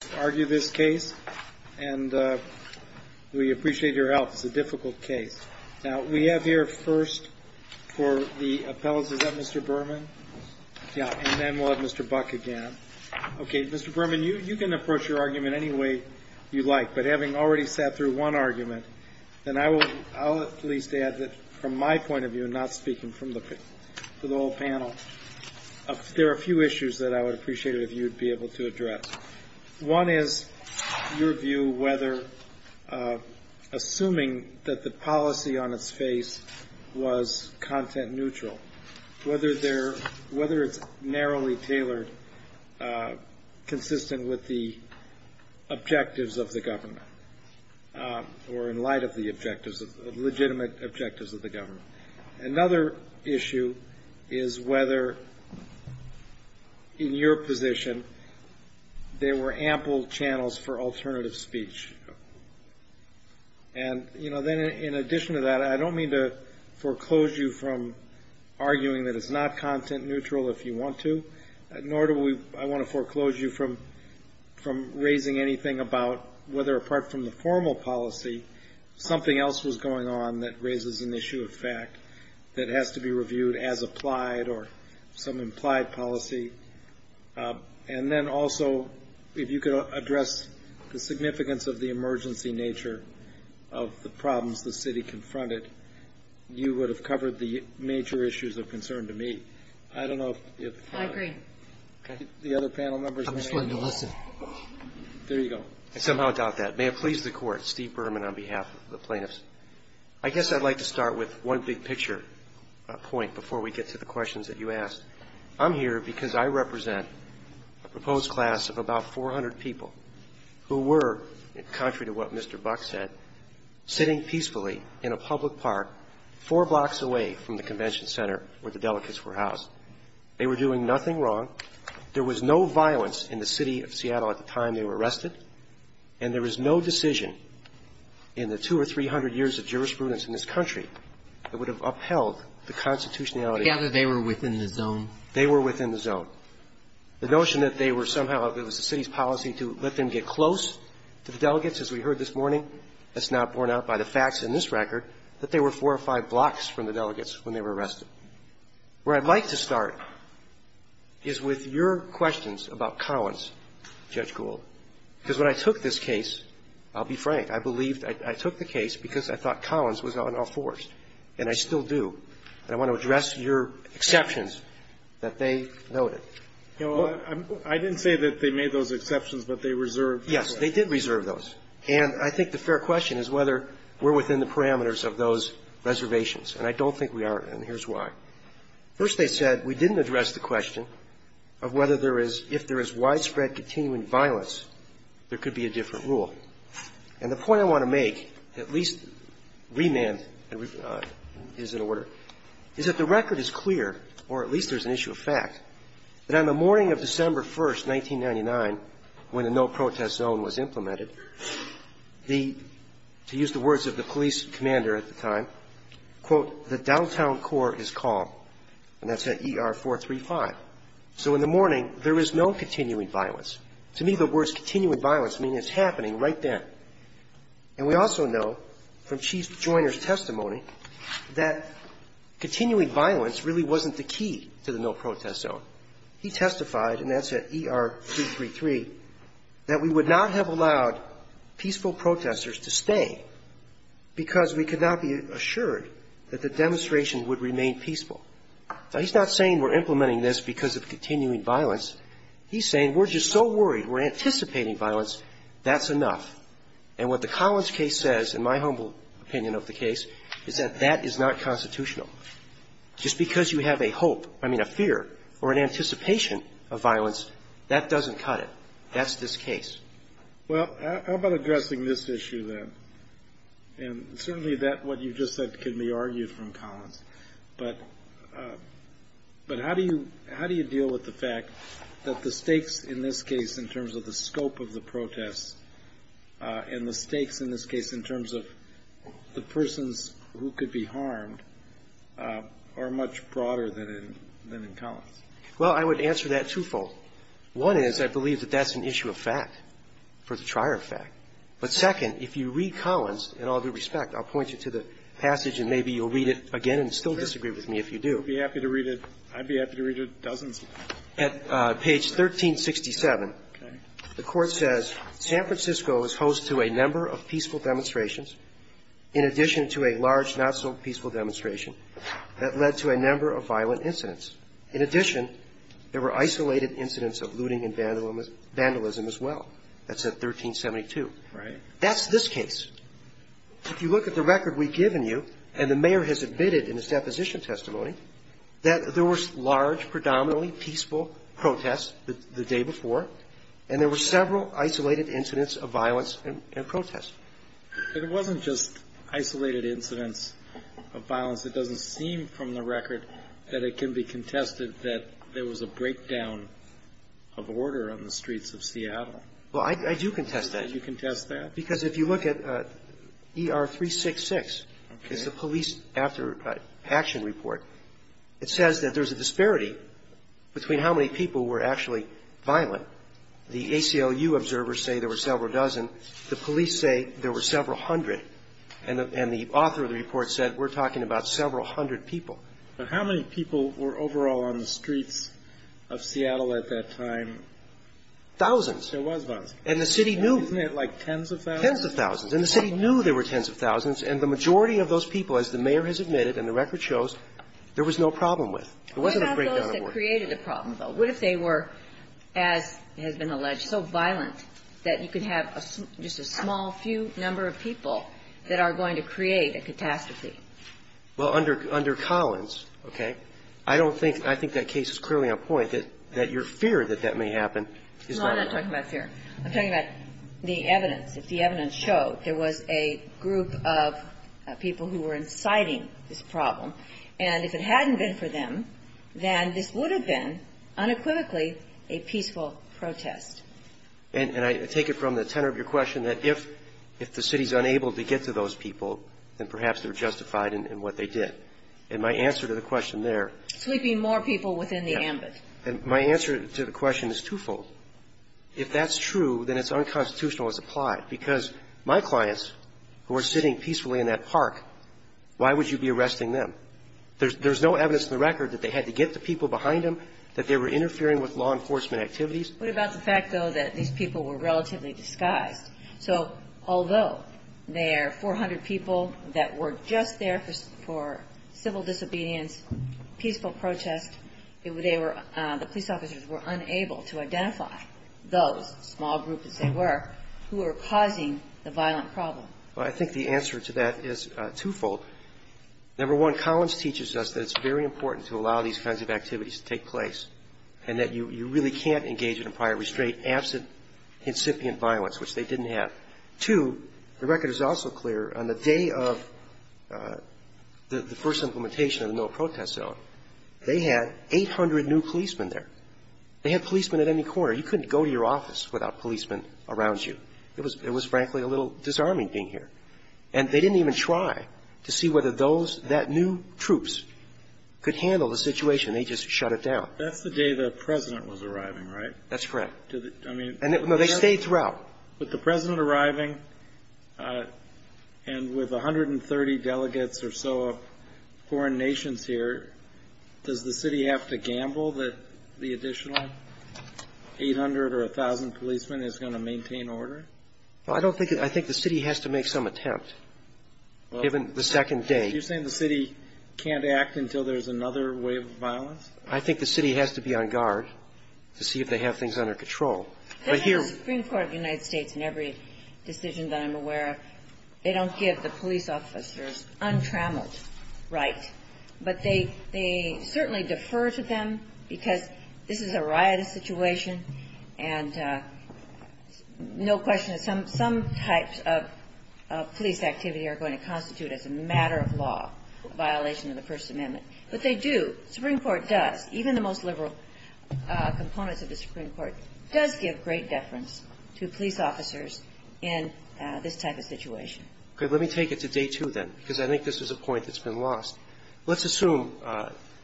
Mr. Berman, you can approach your argument any way you like, but having already sat through one argument, I will at least add that from my point of view, and not speaking for the whole panel, there are a few issues that I would appreciate it if you would be able to address. One is your view whether, assuming that the policy on its face was content neutral, whether it's narrowly tailored, consistent with the objectives of the government, or in light of the legitimate objectives of the government. Another issue is whether, in your position, there were ample channels for alternative speech. In addition to that, I don't mean to foreclose you from arguing that it's not content neutral if you want to, nor do I want to foreclose you from raising anything about whether, apart from the formal policy, something else was going on that raises an issue of fact that has to be reviewed as some implied policy. And then also, if you could address the significance of the emergency nature of the problems the City confronted, you would have covered the major issues of concern to me. I don't know if the other panel members would agree. I somehow doubt that. May it please the Court, Steve Berman on behalf of the plaintiffs. I guess I'd like to start with one big-picture point before we get to the questions that you asked. I'm here because I represent a proposed class of about 400 people who were, contrary to what Mr. Buck said, sitting peacefully in a public park four blocks away from the convention center where the delegates were housed. They were doing nothing wrong. There was no violence in the City of Seattle at the time they were arrested, and there was no decision in the 200 or 300 years of jurisprudence in this country that would have upheld the constitutionality. I gather they were within the zone. They were within the zone. The notion that they were somehow, if it was the City's policy to let them get close to the delegates, as we heard this morning, that's not borne out by the facts in this record, that they were four or five blocks from the delegates when they were arrested. Where I'd like to start is with your questions about Collins, Judge Gould, because when I took this case, I'll be frank, I believed I took the case because I thought Collins was on all fours, and I still do. And I want to address your exceptions that they noted. You know, I didn't say that they made those exceptions, but they reserved those. Yes. They did reserve those. And I think the fair question is whether we're within the parameters of those reservations. And I don't think we are, and here's why. First, they said we didn't address the question of whether there is, if there is widespread continuing violence, there could be a different rule. And the point I want to make, at least remand is in order, is that the record is clear, or at least there's an issue of fact, that on the morning of December 1st, 1999, when a no-protest zone was implemented, the, to use the words of the police commander at the time, quote, the downtown core is calm, and that's at ER 435. So in the morning, there is no continuing violence. To me, the words continuing violence mean it's happening right then. And we also know from Chief Joyner's testimony that continuing violence really wasn't the key to the no-protest zone. He testified, and that's at ER 333, that we would not have allowed peaceful protesters to stay because we could not be assured that the demonstration would remain peaceful. Now, he's not saying we're implementing this because of continuing violence. He's saying we're just so worried, we're anticipating violence, that's enough. And what the Collins case says, in my humble opinion of the case, is that that is not constitutional. Just because you have a hope, I mean a fear, or an anticipation of violence, that doesn't cut it. That's this case. Well, how about addressing this issue then? And certainly that, what you just said, can be argued from Collins. But how do you deal with the fact that the stakes in this case, in terms of the scope of the protest, and the stakes in this case, in terms of the persons who could be harmed, are much broader than in Collins? Well, I would answer that twofold. One is, I believe that that's an issue of fact, for the trier of fact. But second, if you read Collins, in all due respect, I'll point you to the passage and maybe you'll read it again and still disagree with me if you do. I'd be happy to read it dozens of times. At page 1367, the court says, San Francisco is host to a number of peaceful demonstrations. In addition to a large, not so peaceful demonstration, that led to a number of violent incidents. In addition, there were isolated incidents of looting and vandalism as well. That's at 1372. Right. That's this case. If you look at the record we've given you, and the mayor has admitted in his deposition testimony, that there was large, predominantly peaceful protests the day before, and there were several isolated incidents of violence and protest. But it wasn't just isolated incidents of violence. It doesn't seem from the record that it can be contested that there was a breakdown of order on the streets of Seattle. Well, I do contest that. You contest that? Because if you look at ER 366, it's the police after action report. It says that there's a disparity between how many people were actually violent. The ACLU observers say there were several dozen. The police say there were several hundred. And the author of the report said, we're talking about several hundred people. But how many people were overall on the streets of Seattle at that time? Thousands. There was thousands. And the city knew. Isn't it like tens of thousands? Tens of thousands. And the city knew there were tens of thousands. And the majority of those people, as the mayor has admitted, and the record shows, there was no problem with. It wasn't a breakdown of order. What about those that created the problem, though? What if they were, as has been alleged, so violent that you could have just a small, few number of people that are going to create a catastrophe? Well, under Collins, okay, I don't think that case is clearly on point, that your fear that that may happen is not. No, I'm not talking about fear. I'm talking about the evidence. If the evidence showed there was a group of people who were inciting this problem, and if it hadn't been for them, then this would have been, unequivocally, a peaceful protest. And I take it from the tenor of your question that if the city's unable to get to those people, then perhaps they're justified in what they did. And my answer to the question there. Sweeping more people within the ambit. And my answer to the question is twofold. If that's true, then it's unconstitutional as applied. Because my clients, who are sitting peacefully in that park, why would you be arresting them? There's no evidence in the record that they had to get the people behind them, that they were interfering with law enforcement activities. What about the fact, though, that these people were relatively disguised? So, although there are 400 people that were just there for civil disobedience, peaceful protest, the police officers were unable to identify those small groups, as they were, who were causing the violent problem. Well, I think the answer to that is twofold. Number one, Collins teaches us that it's very important to allow these kinds of activities to take place. And that you really can't engage in a prior restraint absent incipient violence, which they didn't have. Two, the record is also clear, on the day of the first implementation of the no protest zone, they had 800 new policemen there. They had policemen at any corner. You couldn't go to your office without policemen around you. It was, frankly, a little disarming being here. And they didn't even try to see whether those, that new troops could handle the situation. They just shut it down. That's the day the President was arriving, right? That's correct. I mean, No, they stayed throughout. With the President arriving, and with 130 delegates or so of foreign nations here, does the city have to gamble that the additional 800 or 1,000 policemen is going to maintain order? Well, I don't think, I think the city has to make some attempt, given the second day. You're saying the city can't act until there's another wave of violence? I think the city has to be on guard to see if they have things under control. But here- This is the Supreme Court of the United States, and every decision that I'm aware of. They don't give the police officers untrammeled right. But they certainly defer to them because this is a riotous situation. And no question, some types of police activity are going to constitute, as a matter of law, a violation of the First Amendment. But they do, the Supreme Court does, even the most liberal components of the Supreme Court. Does give great deference to police officers in this type of situation. Okay, let me take it to day two then, because I think this is a point that's been lost. Let's assume,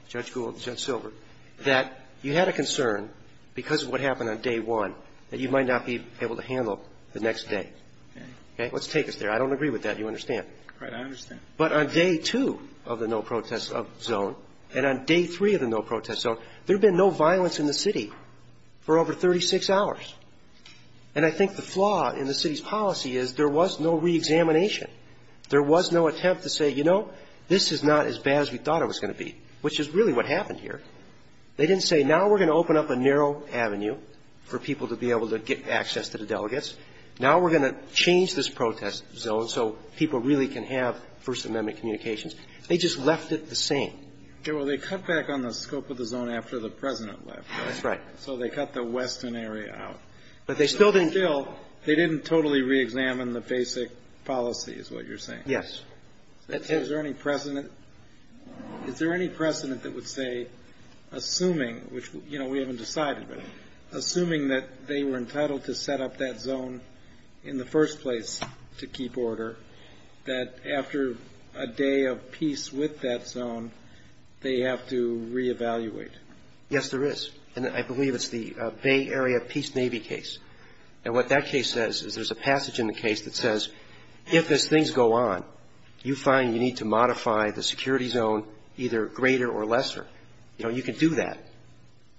Judge Gould, Judge Silver, that you had a concern, because of what happened on day one, that you might not be able to handle the next day. Okay. Okay, let's take us there. I don't agree with that, you understand? Right, I understand. But on day two of the no protest zone, and on day three of the no protest zone, there had been no violence in the city for over 36 hours. And I think the flaw in the city's policy is there was no reexamination. There was no attempt to say, you know, this is not as bad as we thought it was going to be, which is really what happened here. They didn't say, now we're going to open up a narrow avenue for people to be able to get access to the delegates. Now we're going to change this protest zone so people really can have First Amendment communications. They just left it the same. Yeah, well, they cut back on the scope of the zone after the President left. That's right. So they cut the western area out. But they still didn't- Still, they didn't totally reexamine the basic policies, what you're saying. Yes. Is there any precedent that would say, assuming, which, you know, we haven't decided, but assuming that they were entitled to set up that zone in the first place to keep order, that after a day of peace with that zone, they have to reevaluate? Yes, there is. And I believe it's the Bay Area Peace Navy case. And what that case says is there's a passage in the case that says, if as things go on, you find you need to modify the security zone either greater or lesser, you know, you can do that.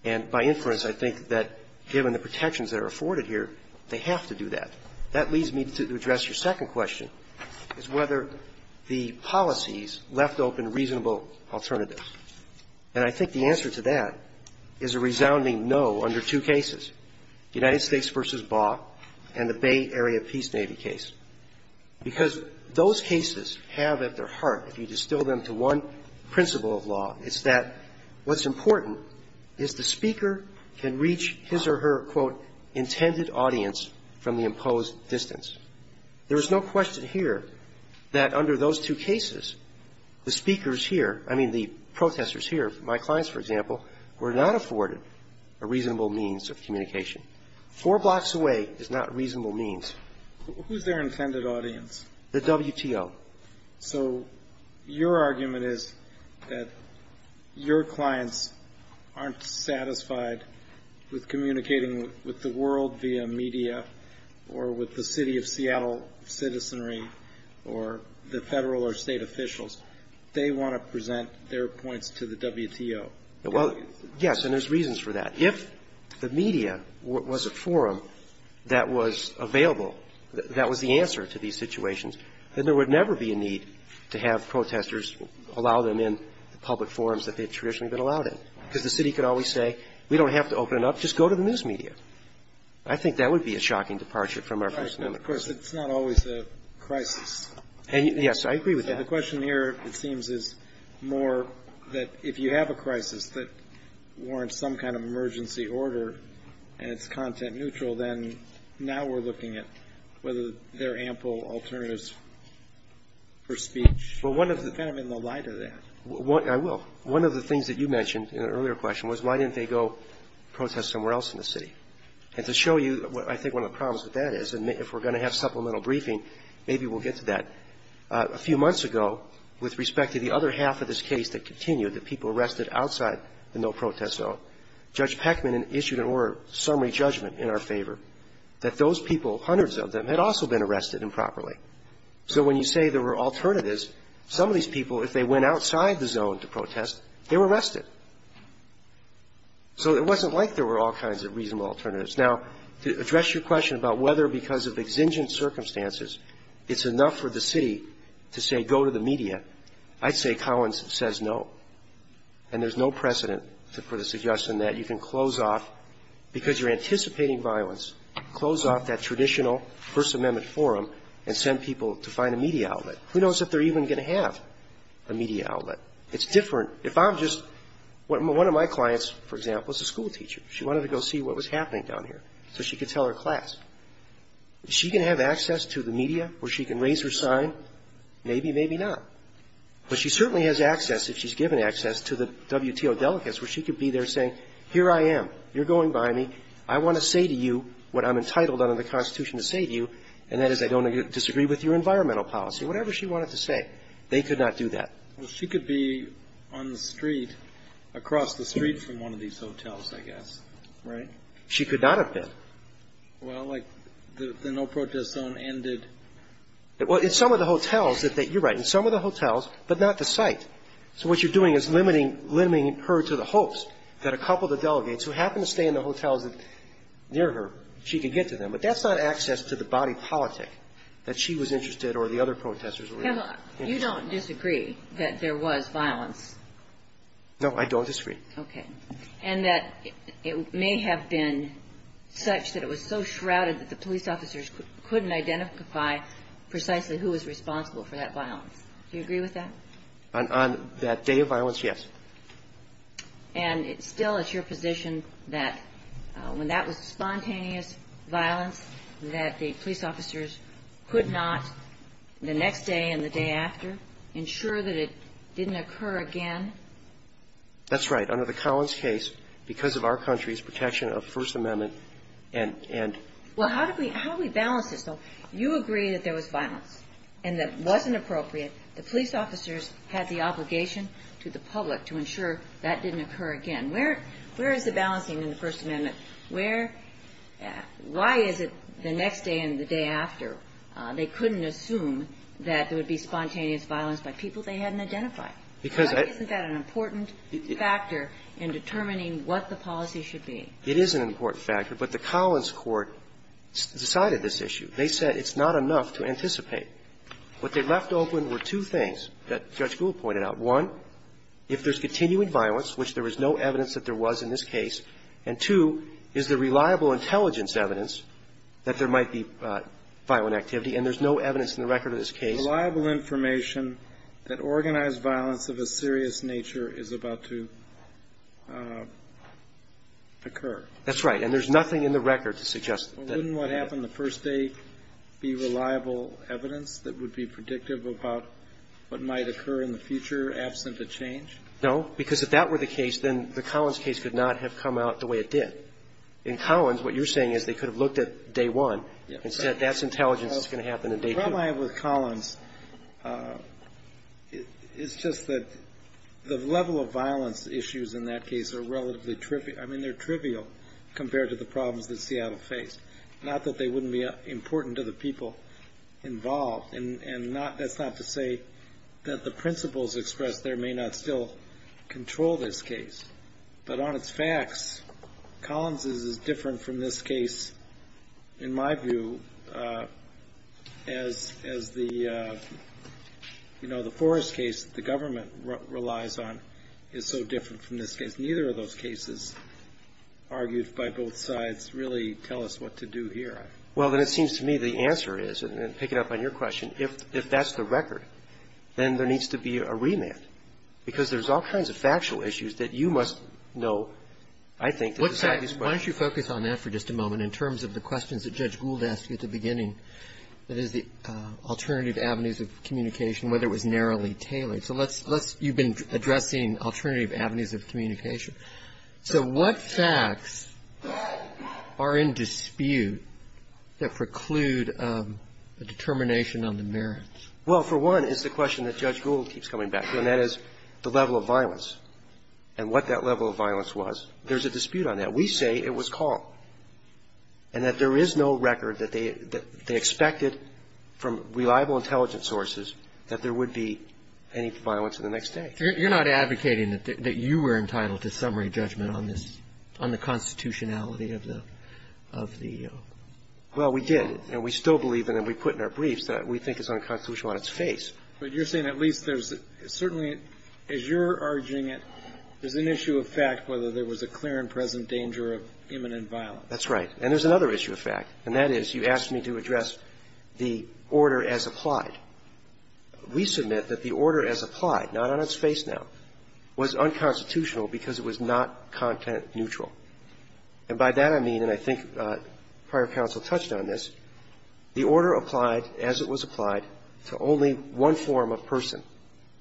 And by inference, I think that given the protections that are afforded here, they have to do that. That leads me to address your second question, is whether the policies left open reasonable alternatives. And I think the answer to that is a resounding no under two cases, the United States v. Baugh and the Bay Area Peace Navy case. Because those cases have at their heart, if you distill them to one principle of law, it's that what's important is the Speaker can reach his or her, quote, intended audience from the imposed distance. There is no question here that under those two cases, the speakers here, I mean the protesters here, my clients, for example, were not afforded a reasonable means of communication. Four blocks away is not reasonable means. Who's their intended audience? The WTO. So your argument is that your clients aren't satisfied with communicating with the world via media or with the City of Seattle citizenry or the Federal or State officials. They want to present their points to the WTO. Well, yes, and there's reasons for that. If the media was a forum that was available, that was the answer to these situations, then there would never be a need to have protesters allow them in the public space that they haven't been allowed in, because the city could always say, we don't have to open it up. Just go to the news media. I think that would be a shocking departure from our personal. Of course, it's not always a crisis. Yes, I agree with that. The question here, it seems, is more that if you have a crisis that warrants some kind of emergency order and it's content neutral, then now we're looking at whether there are ample alternatives for speech. Well, one of the. Kind of in the light of that. I will. One of the things that you mentioned in an earlier question was why didn't they go protest somewhere else in the city? And to show you what I think one of the problems with that is, and if we're going to have supplemental briefing, maybe we'll get to that. A few months ago, with respect to the other half of this case that continued, the people arrested outside the no-protest zone, Judge Peckman issued an order of summary judgment in our favor that those people, hundreds of them, had also been arrested improperly. So when you say there were alternatives, some of these people, if they went outside the zone to protest, they were arrested. So it wasn't like there were all kinds of reasonable alternatives. Now, to address your question about whether because of exigent circumstances it's enough for the city to say go to the media, I'd say Collins says no. And there's no precedent for the suggestion that you can close off, because you're anticipating violence, close off that traditional First Amendment forum and send people to find a media outlet. Who knows if they're even going to have a media outlet? It's different. If I'm just one of my clients, for example, is a schoolteacher. She wanted to go see what was happening down here so she could tell her class. Is she going to have access to the media where she can raise her sign? Maybe, maybe not. But she certainly has access, if she's given access, to the WTO delegates where she could be there saying here I am, you're going by me, I want to say to you what I'm entitled under the Constitution to say to you, and that is I don't disagree with your environmental policy, whatever she wanted to say. They could not do that. She could be on the street, across the street from one of these hotels, I guess. Right? She could not have been. Well, like the no protest zone ended. Well, in some of the hotels, you're right, in some of the hotels, but not the site. So what you're doing is limiting her to the hopes that a couple of the delegates who happen to stay in the hotels near her, she could get to them. But that's not access to the body politic that she was interested or the other protesters were interested in. You don't disagree that there was violence? No, I don't disagree. Okay. And that it may have been such that it was so shrouded that the police officers couldn't identify precisely who was responsible for that violence. Do you agree with that? On that day of violence, yes. And it's still at your position that when that was spontaneous violence, that the police officers could not, the next day and the day after, ensure that it didn't occur again? That's right. Under the Collins case, because of our country's protection of the First Amendment, and... Well, how do we balance this, though? You agree that there was violence and that it wasn't appropriate. The police officers had the obligation to the public to ensure that didn't occur again. Where is the balancing in the First Amendment? Where – why is it the next day and the day after, they couldn't assume that there would be spontaneous violence by people they hadn't identified? Because I... Isn't that an important factor in determining what the policy should be? It is an important factor, but the Collins court decided this issue. They said it's not enough to anticipate. What they left open were two things that Judge Gould pointed out. One, if there's continuing violence, which there is no evidence that there was in this case, and two, is there reliable intelligence evidence that there might be violent activity, and there's no evidence in the record of this case... Reliable information that organized violence of a serious nature is about to occur. That's right. And there's nothing in the record to suggest that... No, because if that were the case, then the Collins case could not have come out the way it did. In Collins, what you're saying is they could have looked at day one and said that's intelligence that's going to happen in day two. The problem I have with Collins is just that the level of violence issues in that case are relatively trivial. I mean, they're trivial compared to the problems that Seattle faced, not that they wouldn't be important to the people involved. And that's not to say that the principles expressed there may not still control this case. But on its facts, Collins is different from this case, in my view, as the Forrest case the government relies on is so different from this case. So I'm not sure that the fact that it was argued by both sides really tell us what to do here. Well, then it seems to me the answer is, and picking up on your question, if that's the record, then there needs to be a remand, because there's all kinds of factual issues that you must know, I think, that decide these questions. Why don't you focus on that for just a moment, in terms of the questions that Judge Gould asked you at the beginning, that is, the alternative avenues of communication, whether it was narrowly tailored. So let's you've been addressing alternative avenues of communication. So what facts are in dispute that preclude a determination on the merits? Well, for one, it's the question that Judge Gould keeps coming back to, and that is the level of violence and what that level of violence was. There's a dispute on that. We say it was called, and that there is no record that they expected from reliable intelligence sources that there would be any violence in the next day. You're not advocating that you were entitled to summary judgment on this, on the constitutionality of the EO? Well, we did. And we still believe, and we put in our briefs, that we think it's unconstitutional on its face. But you're saying at least there's certainly, as you're urging it, there's an issue of fact whether there was a clear and present danger of imminent violence. That's right. And there's another issue of fact, and that is you asked me to address the order as applied. We submit that the order as applied, not on its face now, was unconstitutional because it was not content neutral. And by that I mean, and I think prior counsel touched on this, the order applied as it was applied to only one form of person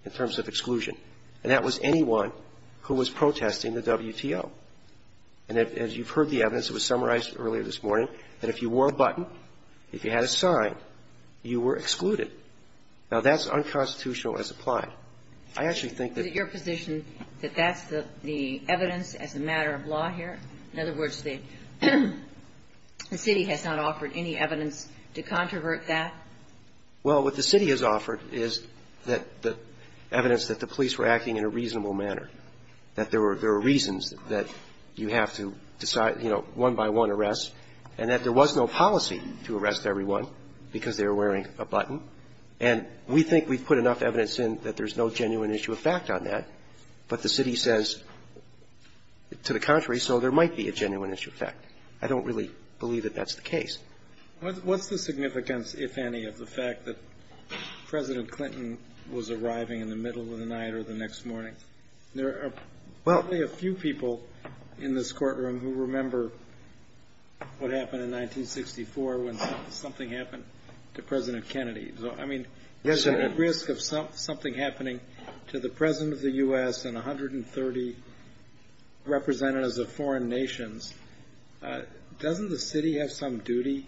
in terms of exclusion, and that was anyone who was protesting the WTO. And as you've heard the evidence, it was summarized earlier this morning, that if you Now, that's unconstitutional as applied. I actually think that your position that that's the evidence as a matter of law here? In other words, the city has not offered any evidence to controvert that? Well, what the city has offered is that the evidence that the police were acting in a reasonable manner, that there were reasons that you have to decide, you know, one by one arrests, and that there was no policy to arrest everyone because they were wearing a button. And we think we've put enough evidence in that there's no genuine issue of fact on that, but the city says to the contrary, so there might be a genuine issue of fact. I don't really believe that that's the case. What's the significance, if any, of the fact that President Clinton was arriving in the middle of the night or the next morning? There are probably a few people in this courtroom who remember what happened in 1964 when something happened to President Kennedy. I mean, there's a risk of something happening to the President of the U.S. and 130 representatives of foreign nations. Doesn't the city have some duty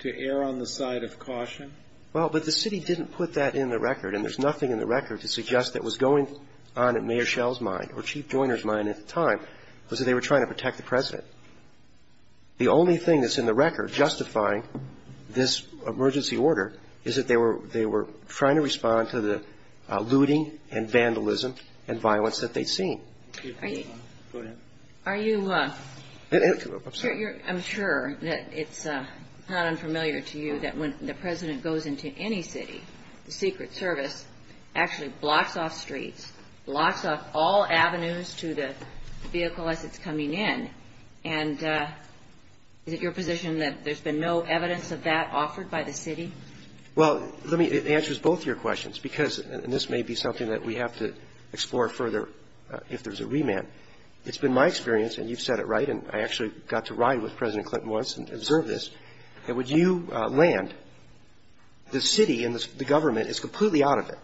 to err on the side of caution? Well, but the city didn't put that in the record, and there's nothing in the record to suggest that was going on in Mayor Schell's mind or Chief Joyner's mind at the time, was that they were trying to protect the President. The only thing that's in the record justifying this emergency order is that they were trying to respond to the looting and vandalism and violence that they'd seen. Are you sure that it's not unfamiliar to you that when the President goes into any city, the Secret Service actually blocks off streets, blocks off all avenues to the vehicle as it's coming in, and is it your position that there's been no evidence of that offered by the city? Well, it answers both of your questions, because this may be something that we have to explore further if there's a remand. It's been my experience, and you've said it right, and I actually got to ride with President Clinton once and observe this, that when you land, the city and the government is completely out of it.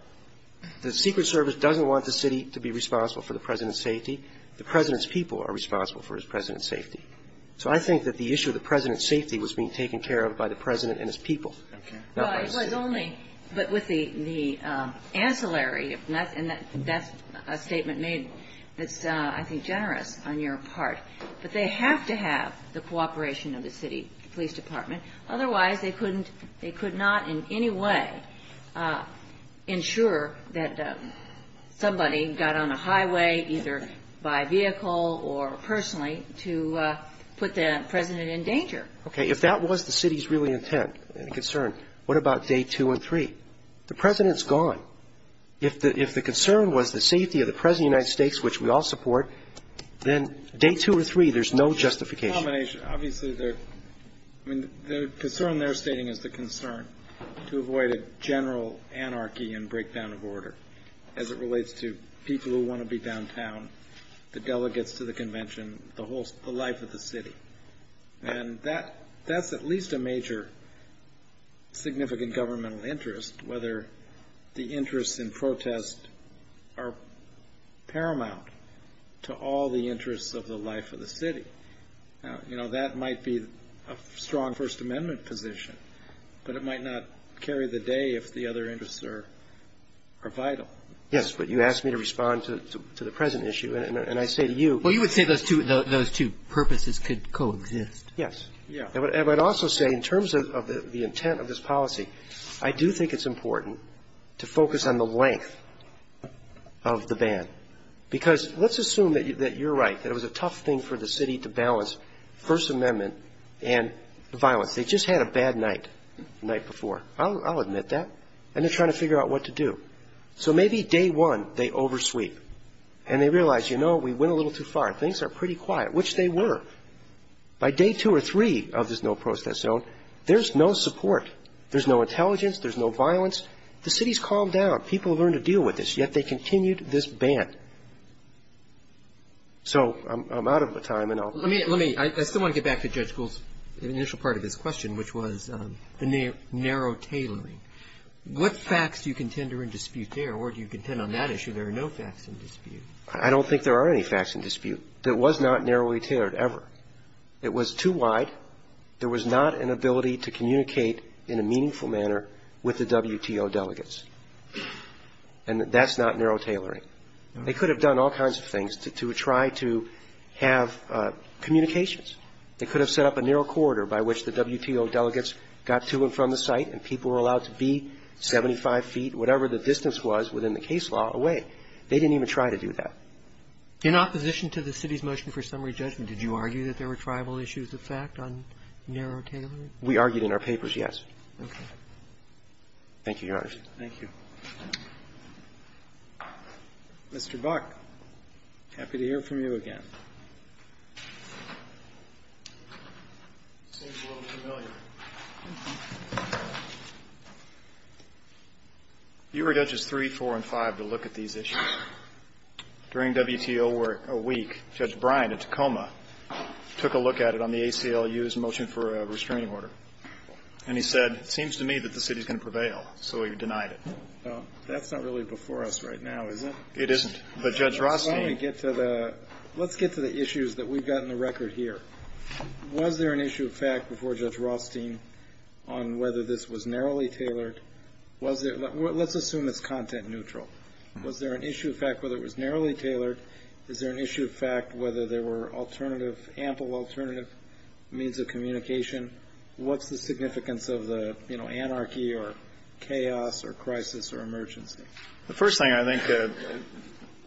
The Secret Service doesn't want the city to be responsible for the President's safety. The President's people are responsible for his President's safety. So I think that the issue of the President's safety was being taken care of by the President and his people, not by the city. Well, it was only with the ancillary, and that's a statement made that's, I think, generous on your part. But they have to have the cooperation of the city police department. Otherwise, they could not in any way ensure that somebody got on a highway, either by vehicle or personally, to put the President in danger. Okay. If that was the city's real intent and concern, what about day two and three? The President's gone. If the concern was the safety of the President of the United States, which we all support, then day two or three, there's no justification. Well, there's a combination. Obviously, the concern they're stating is the concern to avoid a general anarchy and breakdown of order, as it relates to people who want to be downtown, the delegates to the convention, the life of the city. And that's at least a major significant governmental interest, whether the interests in protest are paramount to all the interests of the life of the city. Now, you know, that might be a strong First Amendment position, but it might not carry the day if the other interests are vital. Yes, but you asked me to respond to the present issue, and I say to you — Well, you would say those two purposes could coexist. Yes. Yeah. And I would also say, in terms of the intent of this policy, I do think it's important to focus on the length of the ban, because let's assume that you're right, that it was a tough thing for the city to balance First Amendment and violence. They just had a bad night the night before. I'll admit that. And they're trying to figure out what to do. So maybe day one, they oversweep, and they realize, you know, we went a little too far. Things are pretty quiet, which they were. By day two or three of this no protest zone, there's no support. There's no intelligence. There's no violence. The city's calmed down. People have learned to deal with this, yet they continued this ban. So I'm out of time, and I'll — Let me — let me — I still want to get back to Judge Gould's initial part of his question, which was the narrow tailoring. What facts do you contend are in dispute there, or do you contend on that issue there are no facts in dispute? I don't think there are any facts in dispute. There was not narrowly tailored ever. It was too wide. There was not an ability to communicate in a meaningful manner with the WTO delegates. And that's not narrow tailoring. They could have done all kinds of things to try to have communications. They could have set up a narrow corridor by which the WTO delegates got to and from the site, and people were allowed to be 75 feet, whatever the distance was within the case law, away. They didn't even try to do that. In opposition to the city's motion for summary judgment, did you argue that there were tribal issues of fact on narrow tailoring? We argued in our papers, yes. Okay. Thank you, Your Honor. Thank you. Mr. Buck, happy to hear from you again. Seems a little familiar. You were Judges 3, 4, and 5 to look at these issues. During WTO work a week, Judge Bryant at Tacoma took a look at it on the ACLU's motion for a restraining order. And he said, it seems to me that the city's going to prevail. So he denied it. That's not really before us right now, is it? It isn't. But Judge Rothstein Let's get to the issues that we've got in the record here. Was there an issue of fact before Judge Rothstein on whether this was narrowly tailored? Let's assume it's content neutral. Was there an issue of fact whether it was narrowly tailored? Is there an issue of fact whether there were alternative, ample alternative means of communication? What's the significance of the, you know, anarchy or chaos or crisis or emergency? The first thing I think,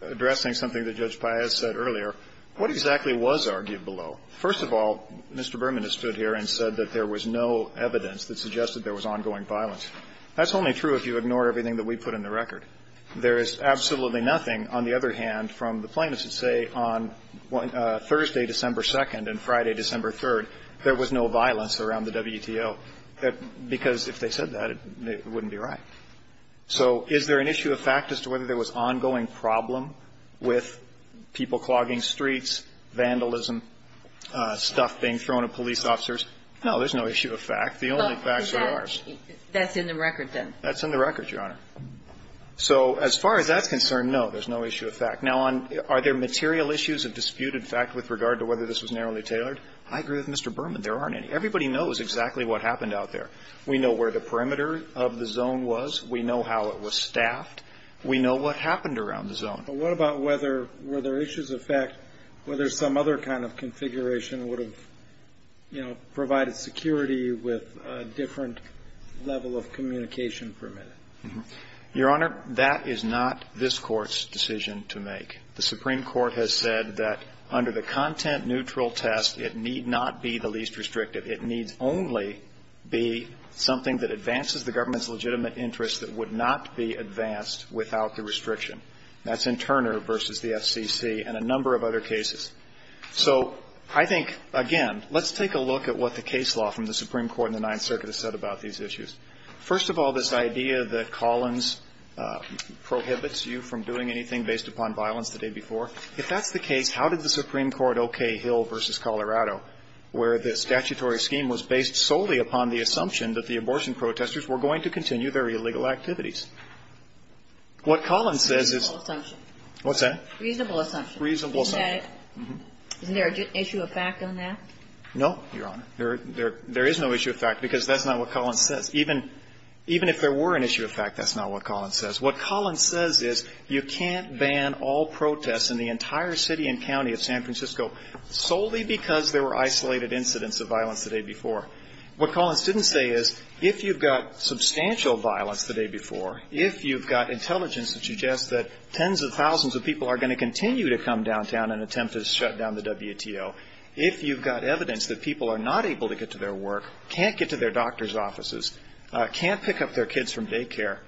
addressing something that Judge Paez said earlier, what exactly was argued below? First of all, Mr. Berman has stood here and said that there was no evidence that suggested there was ongoing violence. That's only true if you ignore everything that we put in the record. There is absolutely nothing, on the other hand, from the plaintiffs that say on Thursday, December 2nd, and Friday, December 3rd, there was no violence around the WTO. Because if they said that, it wouldn't be right. So is there an issue of fact as to whether there was ongoing problem with people clogging streets, vandalism, stuff being thrown at police officers? No, there's no issue of fact. The only facts are ours. That's in the record, then. That's in the record, Your Honor. So as far as that's concerned, no, there's no issue of fact. Now, are there material issues of dispute, in fact, with regard to whether this was narrowly tailored? I agree with Mr. Berman. There aren't any. Everybody knows exactly what happened out there. We know where the perimeter of the zone was. We know how it was staffed. We know what happened around the zone. But what about whether, were there issues of fact, whether some other kind of configuration would have, you know, provided security with a different level of communication for a minute? Your Honor, that is not this Court's decision to make. The Supreme Court has said that under the content-neutral test, it need not be the least restrictive. It needs only be something that advances the government's legitimate interest that would not be advanced without the restriction. That's in Turner v. the FCC and a number of other cases. So I think, again, let's take a look at what the case law from the Supreme Court in the Ninth Circuit has said about these issues. First of all, this idea that Collins prohibits you from doing anything based upon violence the day before, if that's the case, how did the Supreme Court okay Hill v. Colorado, where the statutory scheme was based solely upon the assumption that the abortion protesters were going to continue their illegal activities? What Collins says is ---- Reasonable assumption. What's that? Reasonable assumption. Isn't there an issue of fact on that? No, Your Honor. There is no issue of fact, because that's not what Collins says. Even if there were an issue of fact, that's not what Collins says. What Collins says is you can't ban all protests in the entire city and county of San Francisco solely because there were isolated incidents of violence the day before. What Collins didn't say is if you've got substantial violence the day before, if you've got intelligence that suggests that tens of thousands of people are going to continue to come downtown and attempt to shut down the WTO, if you've got evidence that people are not able to get to their work, can't get to their doctor's offices, can't pick up their kids from daycare,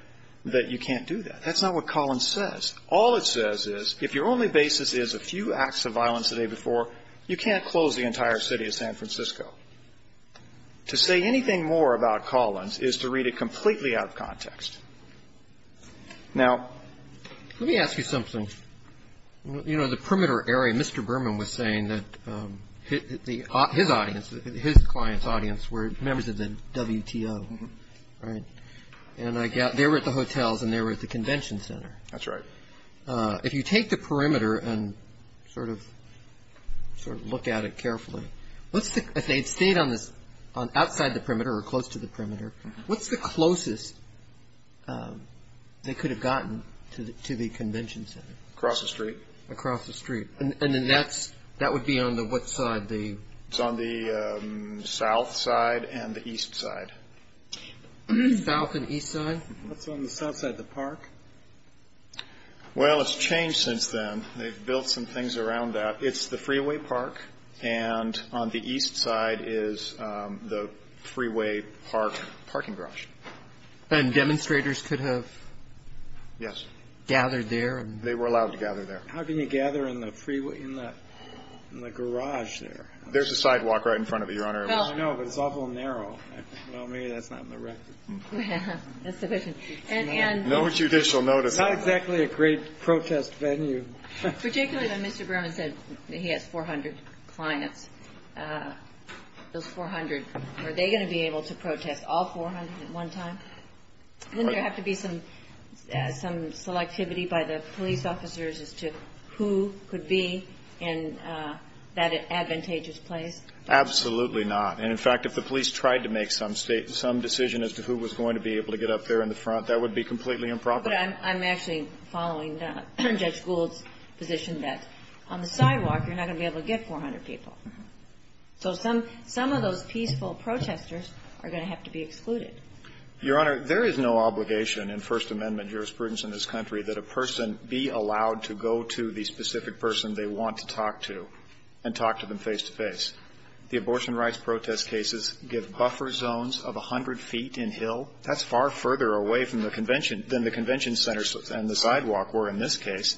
that you can't do that. That's not what Collins says. All it says is if your only basis is a few acts of violence the day before, you can't close the entire city of San Francisco. To say anything more about Collins is to read it completely out of context. Now, let me ask you something. You know, the perimeter area, Mr. Berman was saying that his audience, his client's audience were members of the WTO, right? And they were at the hotels and they were at the convention center. That's right. If you take the perimeter and sort of look at it carefully, if they had stayed on this outside the perimeter or close to the perimeter, what's the closest they could have gotten to the convention center? Across the street. Across the street. And then that would be on what side? It's on the south side and the east side. South and east side? That's on the south side of the park. Well, it's changed since then. They've built some things around that. It's the freeway park and on the east side is the freeway park parking garage. And demonstrators could have gathered there? They were allowed to gather there. How can you gather in the garage there? There's a sidewalk right in front of it, Your Honor. I know, but it's awful narrow. Well, maybe that's not in the record. No judicial notice. It's not exactly a great protest venue. Particularly when Mr. Berman said he has 400 clients. Those 400, are they going to be able to protest all 400 at one time? Wouldn't there have to be some selectivity by the police officers as to who could be in that advantageous place? Absolutely not. And, in fact, if the police tried to make some decision as to who was going to be able to get up there in the front, that would be completely improper. But I'm actually following Judge Gould's position that on the sidewalk you're not going to be able to get 400 people. So some of those peaceful protesters are going to have to be excluded. Your Honor, there is no obligation in First Amendment jurisprudence in this country that a person be allowed to go to the specific person they want to talk to and talk to them face-to-face. The abortion rights protest cases give buffer zones of 100 feet in hill. That's far further away from the convention than the convention centers and the sidewalk were in this case.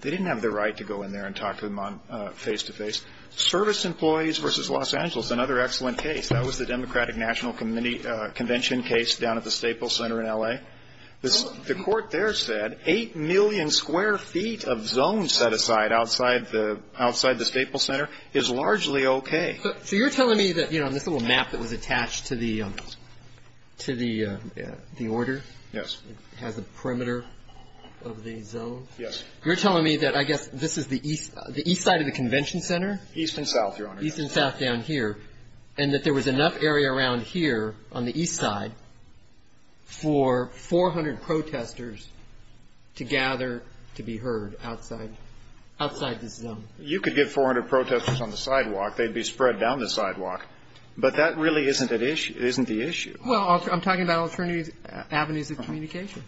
They didn't have the right to go in there and talk to them face-to-face. Service Employees v. Los Angeles, another excellent case. That was the Democratic National Convention case down at the Staple Center in L.A. The court there said 8 million square feet of zone set aside outside the Staple Center is largely okay. So you're telling me that, you know, on this little map that was attached to the order? Yes. It has a perimeter of the zone? Yes. You're telling me that I guess this is the east side of the convention center? East and south, Your Honor. East and south down here. And that there was enough area around here on the east side for 400 protesters to gather to be heard outside the zone? You could get 400 protesters on the sidewalk. They'd be spread down the sidewalk. But that really isn't the issue. Well, I'm talking about alternative avenues of communication.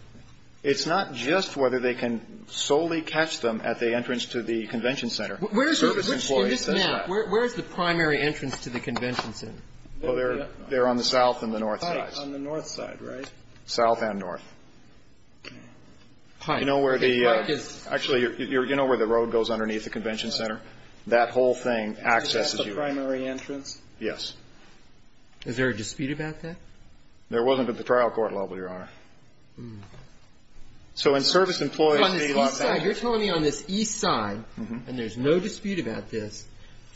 It's not just whether they can solely catch them at the entrance to the convention center. Where is the primary entrance to the convention center? Well, they're on the south and the north sides. On the north side, right? South and north. You know where the road goes underneath the convention center? That whole thing accesses you. Is that the primary entrance? Yes. Is there a dispute about that? There wasn't at the trial court level, Your Honor. So when service employees see that. You're telling me on this east side, and there's no dispute about this,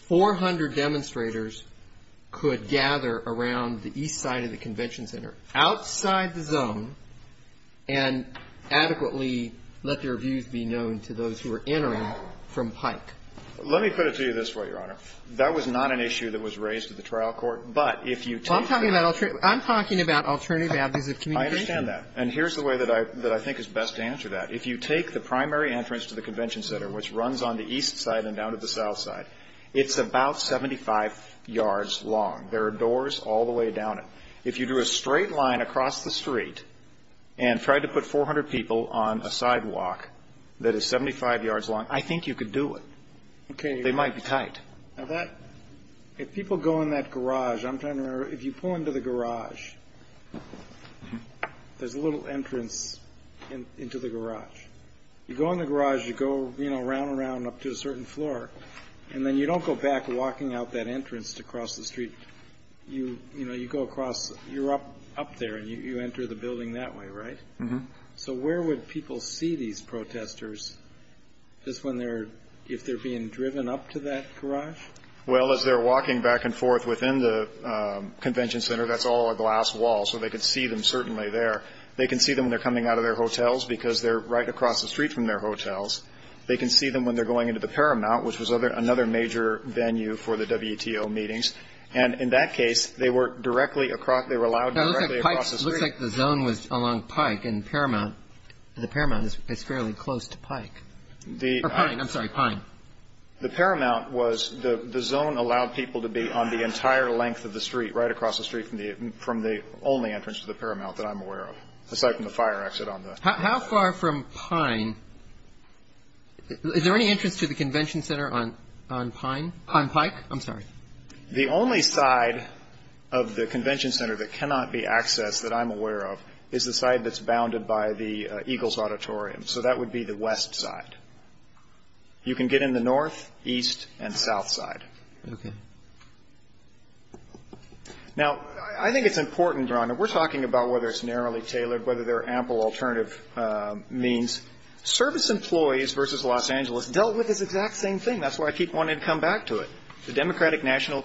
400 demonstrators could gather around the east side of the convention center, outside the zone, and adequately let their views be known to those who are entering from Pike? Let me put it to you this way, Your Honor. That was not an issue that was raised at the trial court. But if you take that. I'm talking about alternative avenues of communication. I understand that. And here's the way that I think is best to answer that. If you take the primary entrance to the convention center, which runs on the east side and down to the south side, it's about 75 yards long. There are doors all the way down it. If you do a straight line across the street and try to put 400 people on a sidewalk that is 75 yards long, I think you could do it. Okay. They might be tight. If people go in that garage, I'm trying to remember, if you pull into the garage, there's a little entrance into the garage. You go in the garage, you go around and around up to a certain floor, and then you don't go back walking out that entrance to cross the street. You go across, you're up there, and you enter the building that way, right? Mm-hmm. So where would people see these protesters if they're being driven up to that garage? Well, as they're walking back and forth within the convention center, that's all a glass wall, so they could see them certainly there. They can see them when they're coming out of their hotels because they're right across the street from their hotels. They can see them when they're going into the Paramount, which was another major venue for the WTO meetings. And in that case, they were allowed directly across the street. It looks like the zone was along Pike and Paramount. The Paramount is fairly close to Pike. Or Pine, I'm sorry, Pine. The Paramount was the zone allowed people to be on the entire length of the street, right across the street from the only entrance to the Paramount that I'm aware of, aside from the fire exit on the other side. How far from Pine? Is there any entrance to the convention center on Pike? On Pike? I'm sorry. The only side of the convention center that cannot be accessed that I'm aware of is the side that's bounded by the Eagles Auditorium. So that would be the west side. You can get in the north, east, and south side. Okay. Now, I think it's important, Ron, that we're talking about whether it's narrowly tailored, whether there are ample alternative means. Service employees versus Los Angeles dealt with this exact same thing. That's why I keep wanting to come back to it. The Democratic National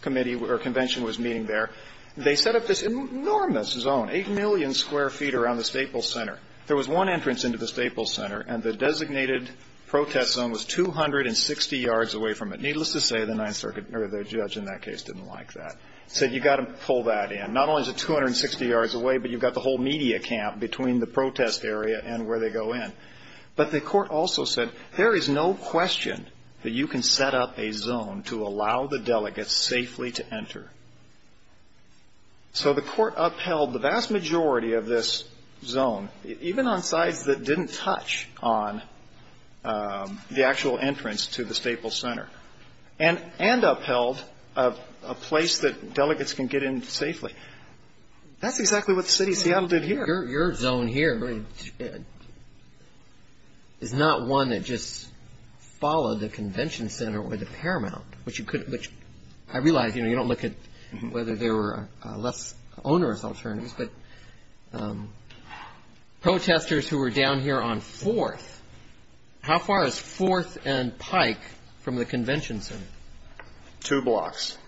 Convention was meeting there. They set up this enormous zone, 8 million square feet around the Staples Center. There was one entrance into the Staples Center, and the designated protest zone was 260 yards away from it. Needless to say, the judge in that case didn't like that. He said, you've got to pull that in. Not only is it 260 yards away, but you've got the whole media camp between the protest area and where they go in. But the court also said, there is no question that you can set up a zone to allow the delegates safely to enter. So the court upheld the vast majority of this zone, even on sides that didn't touch on the actual entrance to the Staples Center, and upheld a place that delegates can get in safely. That's exactly what the city of Seattle did here. Your zone here is not one that just followed the Convention Center or the Paramount, which I realize you don't look at whether there were less onerous alternatives. But protesters who were down here on 4th, how far is 4th and Pike from the Convention Center? Two blocks.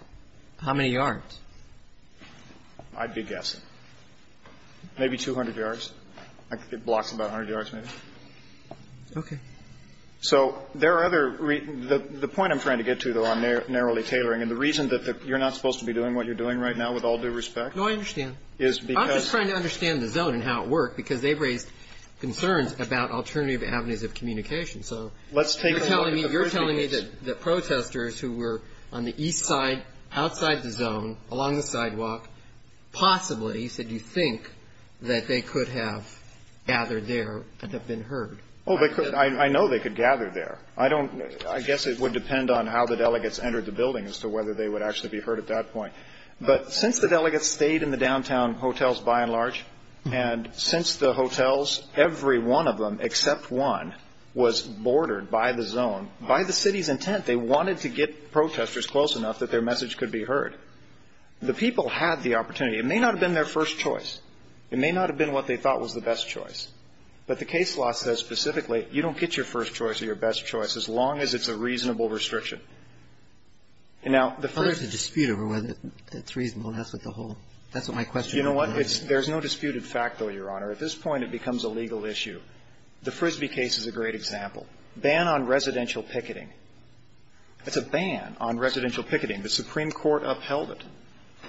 How many yards? I'd be guessing. Maybe 200 yards. It blocks about 100 yards, maybe. Okay. So there are other reasons. The point I'm trying to get to, though, on narrowly tailoring, and the reason that you're not supposed to be doing what you're doing right now with all due respect. No, I understand. I'm just trying to understand the zone and how it worked, because they've raised concerns about alternative avenues of communication. You're telling me that the protesters who were on the east side, outside the zone, along the sidewalk, possibly, you said, you think that they could have gathered there and have been heard. I know they could gather there. I guess it would depend on how the delegates entered the building as to whether they would actually be heard at that point. But since the delegates stayed in the downtown hotels, by and large, and since the hotels, every one of them except one, was bordered by the zone, by the city's intent, they wanted to get protesters close enough that their message could be heard. The people had the opportunity. It may not have been their first choice. It may not have been what they thought was the best choice. But the case law says specifically you don't get your first choice or your best choice as long as it's a reasonable restriction. Now, the first — Well, there's a dispute over whether it's reasonable. That's what the whole — that's what my question is. You know what? There's no disputed fact, though, Your Honor. At this point, it becomes a legal issue. The Frisbee case is a great example. Ban on residential picketing. It's a ban on residential picketing. The Supreme Court upheld it.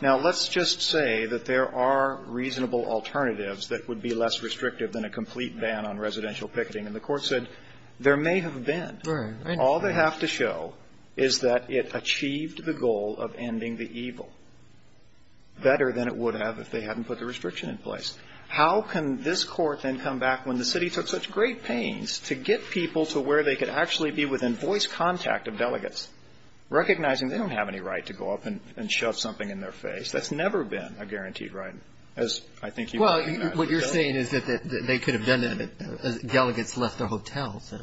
Now, let's just say that there are reasonable alternatives that would be less restrictive than a complete ban on residential picketing. And the Court said there may have been. Right. All they have to show is that it achieved the goal of ending the evil better than it would have if they hadn't put the restriction in place. How can this Court then come back when the city took such great pains to get people to where they could actually be within voice contact of delegates, recognizing they don't have any right to go up and shove something in their face? That's never been a guaranteed right, as I think you would imagine. Well, what you're saying is that they could have done that as delegates left their hotels.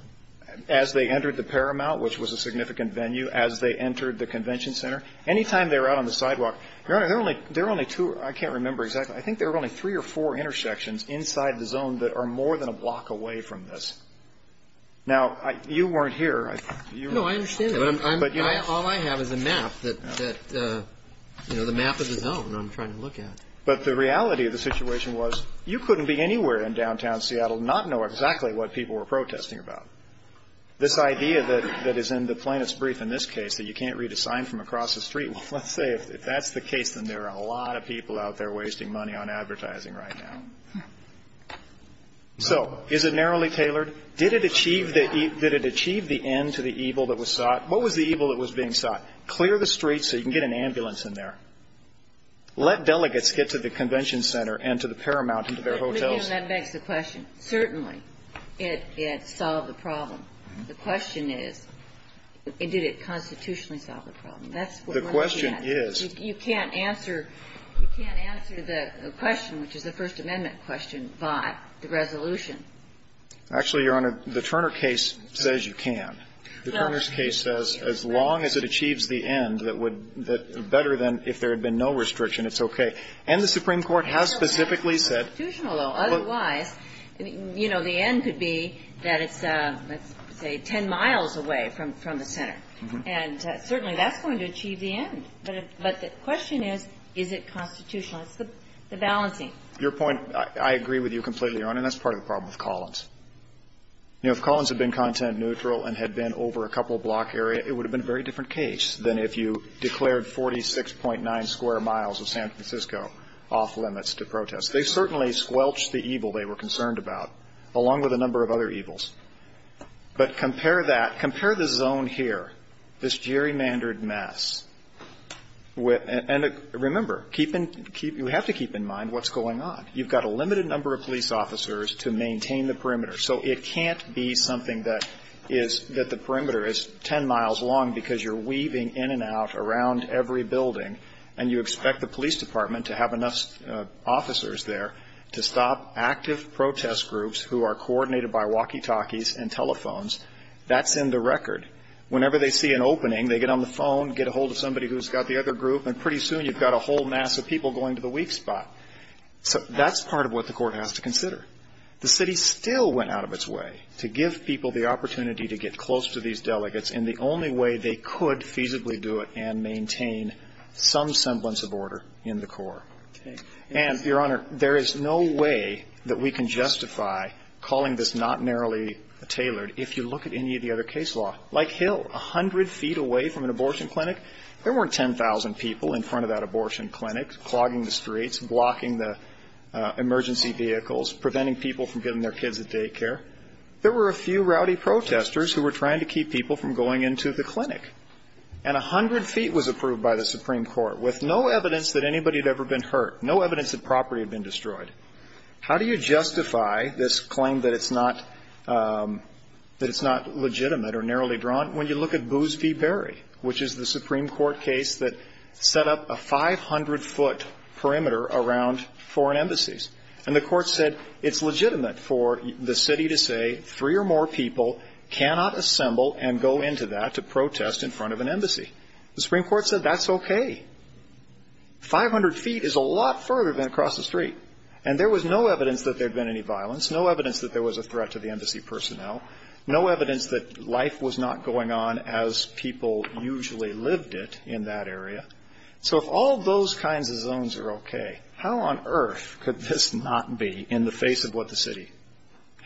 As they entered the Paramount, which was a significant venue. As they entered the convention center. Any time they were out on the sidewalk, Your Honor, there were only two, I can't remember exactly. I think there were only three or four intersections inside the zone that are more than a block away from this. Now, you weren't here. No, I understand that. All I have is a map that, you know, the map of the zone I'm trying to look at. But the reality of the situation was you couldn't be anywhere in downtown Seattle and not know exactly what people were protesting about. This idea that is in the plaintiff's brief in this case, that you can't read a sign from across the street, well, let's say if that's the case, then there are a lot of people out there wasting money on advertising right now. So, is it narrowly tailored? Did it achieve the end to the evil that was sought? What was the evil that was being sought? Clear the streets so you can get an ambulance in there. Let delegates get to the convention center and to the Paramount and to their hotels. You know, that begs the question. Certainly, it solved the problem. The question is, did it constitutionally solve the problem? That's what we're looking at. The question is. You can't answer the question, which is the First Amendment question, by the resolution. Actually, Your Honor, the Turner case says you can. The Turner's case says as long as it achieves the end, that would be better than if there had been no restriction, it's okay. And the Supreme Court has specifically said. It's constitutional, though. Otherwise, you know, the end could be that it's, let's say, 10 miles away from the center. And certainly, that's going to achieve the end. But the question is, is it constitutional? It's the balancing. Your point, I agree with you completely, Your Honor, and that's part of the problem with Collins. You know, if Collins had been content neutral and had been over a couple block area, it would have been a very different case than if you declared 46.9 square miles of San Francisco off limits to protest. They certainly squelched the evil they were concerned about, along with a number of other evils. But compare that, compare the zone here, this gerrymandered mess. And remember, you have to keep in mind what's going on. You've got a limited number of police officers to maintain the perimeter. So it can't be something that is, that the perimeter is 10 miles long because you're weaving in and out around every building, and you expect the police department to have enough officers there to stop active protest groups who are coordinated by walkie-talkies and telephones. That's in the record. Whenever they see an opening, they get on the phone, get a hold of somebody who's got the other group, and pretty soon you've got a whole mass of people going to the weak spot. So that's part of what the Court has to consider. The city still went out of its way to give people the opportunity to get close to these delegates in the only way they could feasibly do it and maintain some semblance of order in the court. And, Your Honor, there is no way that we can justify calling this not narrowly tailored if you look at any of the other case law. Like Hill, 100 feet away from an abortion clinic. There weren't 10,000 people in front of that abortion clinic, clogging the streets, blocking the emergency vehicles, preventing people from giving their kids a daycare. There were a few rowdy protesters who were trying to keep people from going into the clinic. And 100 feet was approved by the Supreme Court with no evidence that anybody had ever been hurt, no evidence that property had been destroyed. How do you justify this claim that it's not legitimate or narrowly drawn? When you look at Boos v. Berry, which is the Supreme Court case that set up a 500-foot perimeter around foreign embassies. And the Court said it's legitimate for the city to say three or more people cannot assemble and go into that to protest in front of an embassy. The Supreme Court said that's okay. 500 feet is a lot further than across the street. And there was no evidence that there had been any violence, no evidence that there was a threat to the embassy personnel, no evidence that life was not going on as people usually lived it in that area. So if all those kinds of zones are okay, how on earth could this not be in the face of what the city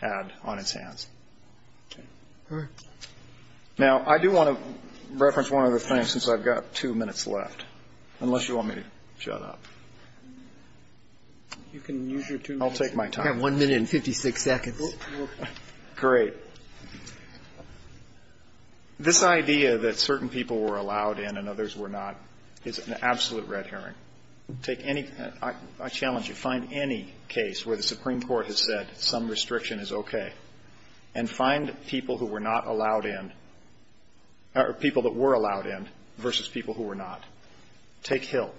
had on its hands? Okay. Now, I do want to reference one other thing since I've got two minutes left, unless you want me to shut up. I'll take my time. You have 1 minute and 56 seconds. Great. This idea that certain people were allowed in and others were not is an absolute red herring. Take any – I challenge you. Find any case where the Supreme Court has said some restriction is okay. And find people who were not allowed in – or people that were allowed in versus people who were not. Take Hill.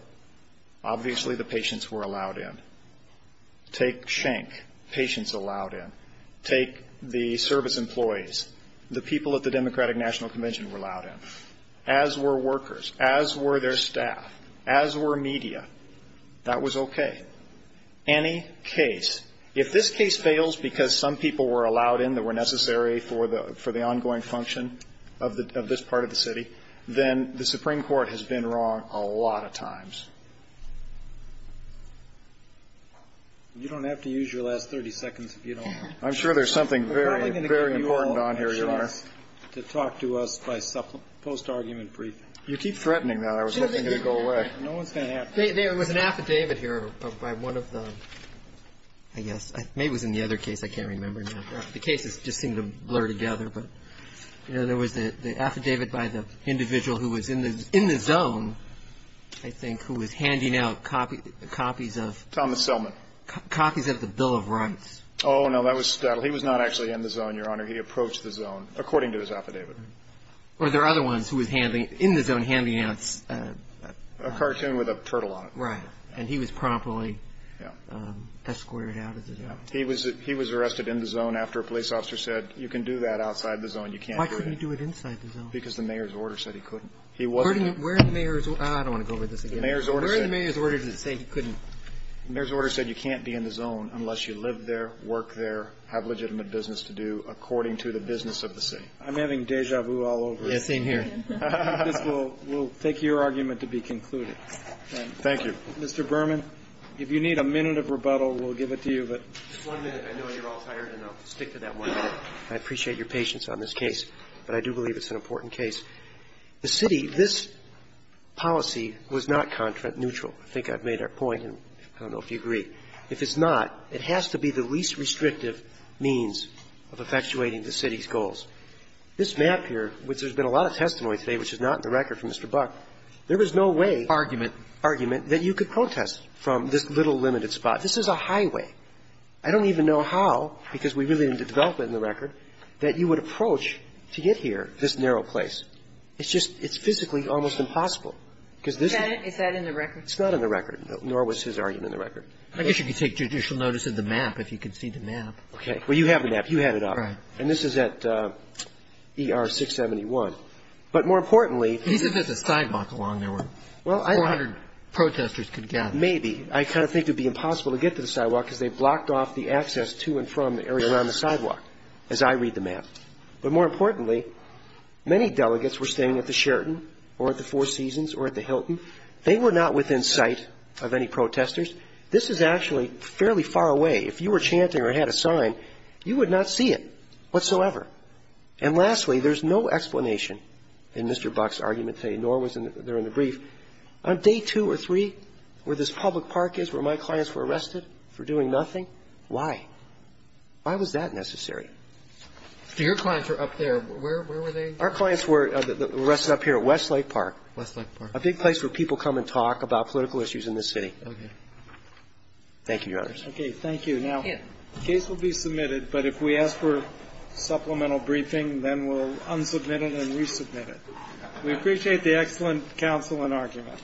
Obviously, the patients were allowed in. Take Schenck. Patients allowed in. Take the service employees, the people at the Democratic National Convention were allowed in, as were workers, as were their staff, as were media. That was okay. Any case – if this case fails because some people were allowed in that were necessary for the ongoing function of this part of the city, then the Supreme Court has been wrong a lot of times. You don't have to use your last 30 seconds if you don't want to. I'm sure there's something very, very important on here, Your Honor. We're not going to give you all an excuse to talk to us by post-argument briefing. You keep threatening that. I was hoping it would go away. No one's going to have to. There was an affidavit here by one of the – I guess. Maybe it was in the other case. I can't remember now. The cases just seem to blur together. But there was the affidavit by the individual who was in the zone, I think, who was handing out copies of – Thomas Selman. Copies of the Bill of Rights. Oh, no, that was – he was not actually in the zone, Your Honor. He approached the zone, according to his affidavit. Were there other ones who was in the zone handing out – A cartoon with a turtle on it. Right. And he was promptly escorted out of the zone. Yeah. He was arrested in the zone after a police officer said, you can do that outside the zone, you can't do it in. Why couldn't he do it inside the zone? Because the mayor's order said he couldn't. He wasn't – Where did the mayor's – I don't want to go over this again. The mayor's order said – Where did the mayor's order say he couldn't? The mayor's order said you can't be in the zone unless you live there, work there, have legitimate business to do according to the business of the city. I'm having déjà vu all over. Yeah, same here. We'll take your argument to be concluded. Thank you. Mr. Berman, if you need a minute of rebuttal, we'll give it to you, but – Just one minute. I know you're all tired, and I'll stick to that one minute. I appreciate your patience on this case, but I do believe it's an important case. The city – this policy was not contract neutral. I think I've made our point, and I don't know if you agree. If it's not, it has to be the least restrictive means of effectuating the city's goals. This map here, which there's been a lot of testimony today, which is not in the record from Mr. Buck, there was no way – Argument. Argument that you could protest from this little limited spot. This is a highway. I don't even know how, because we really didn't develop it in the record, that you would approach to get here, this narrow place. It's just – it's physically almost impossible, because this – Is that in the record? It's not in the record, nor was his argument in the record. I guess you could take judicial notice of the map if you could see the map. Well, you have the map. You had it up. Right. And this is at ER 671. But more importantly – He said there's a sidewalk along there where 400 protesters could gather. Maybe. I kind of think it would be impossible to get to the sidewalk, because they blocked off the access to and from the area around the sidewalk, as I read the map. But more importantly, many delegates were staying at the Sheraton or at the Four Seasons or at the Hilton. They were not within sight of any protesters. This is actually fairly far away. If you were chanting or had a sign, you would not see it whatsoever. And lastly, there's no explanation in Mr. Buck's argument today, nor was there in the brief. On day two or three, where this public park is, where my clients were arrested for doing nothing, why? Why was that necessary? Your clients were up there. Where were they? Our clients were arrested up here at Westlake Park. Westlake Park. A big place where people come and talk about political issues in this city. Okay. Thank you, Your Honors. Okay. Thank you. Now, the case will be submitted, but if we ask for supplemental briefing, then we'll unsubmit it and resubmit it. We appreciate the excellent counsel and argument. Thank you.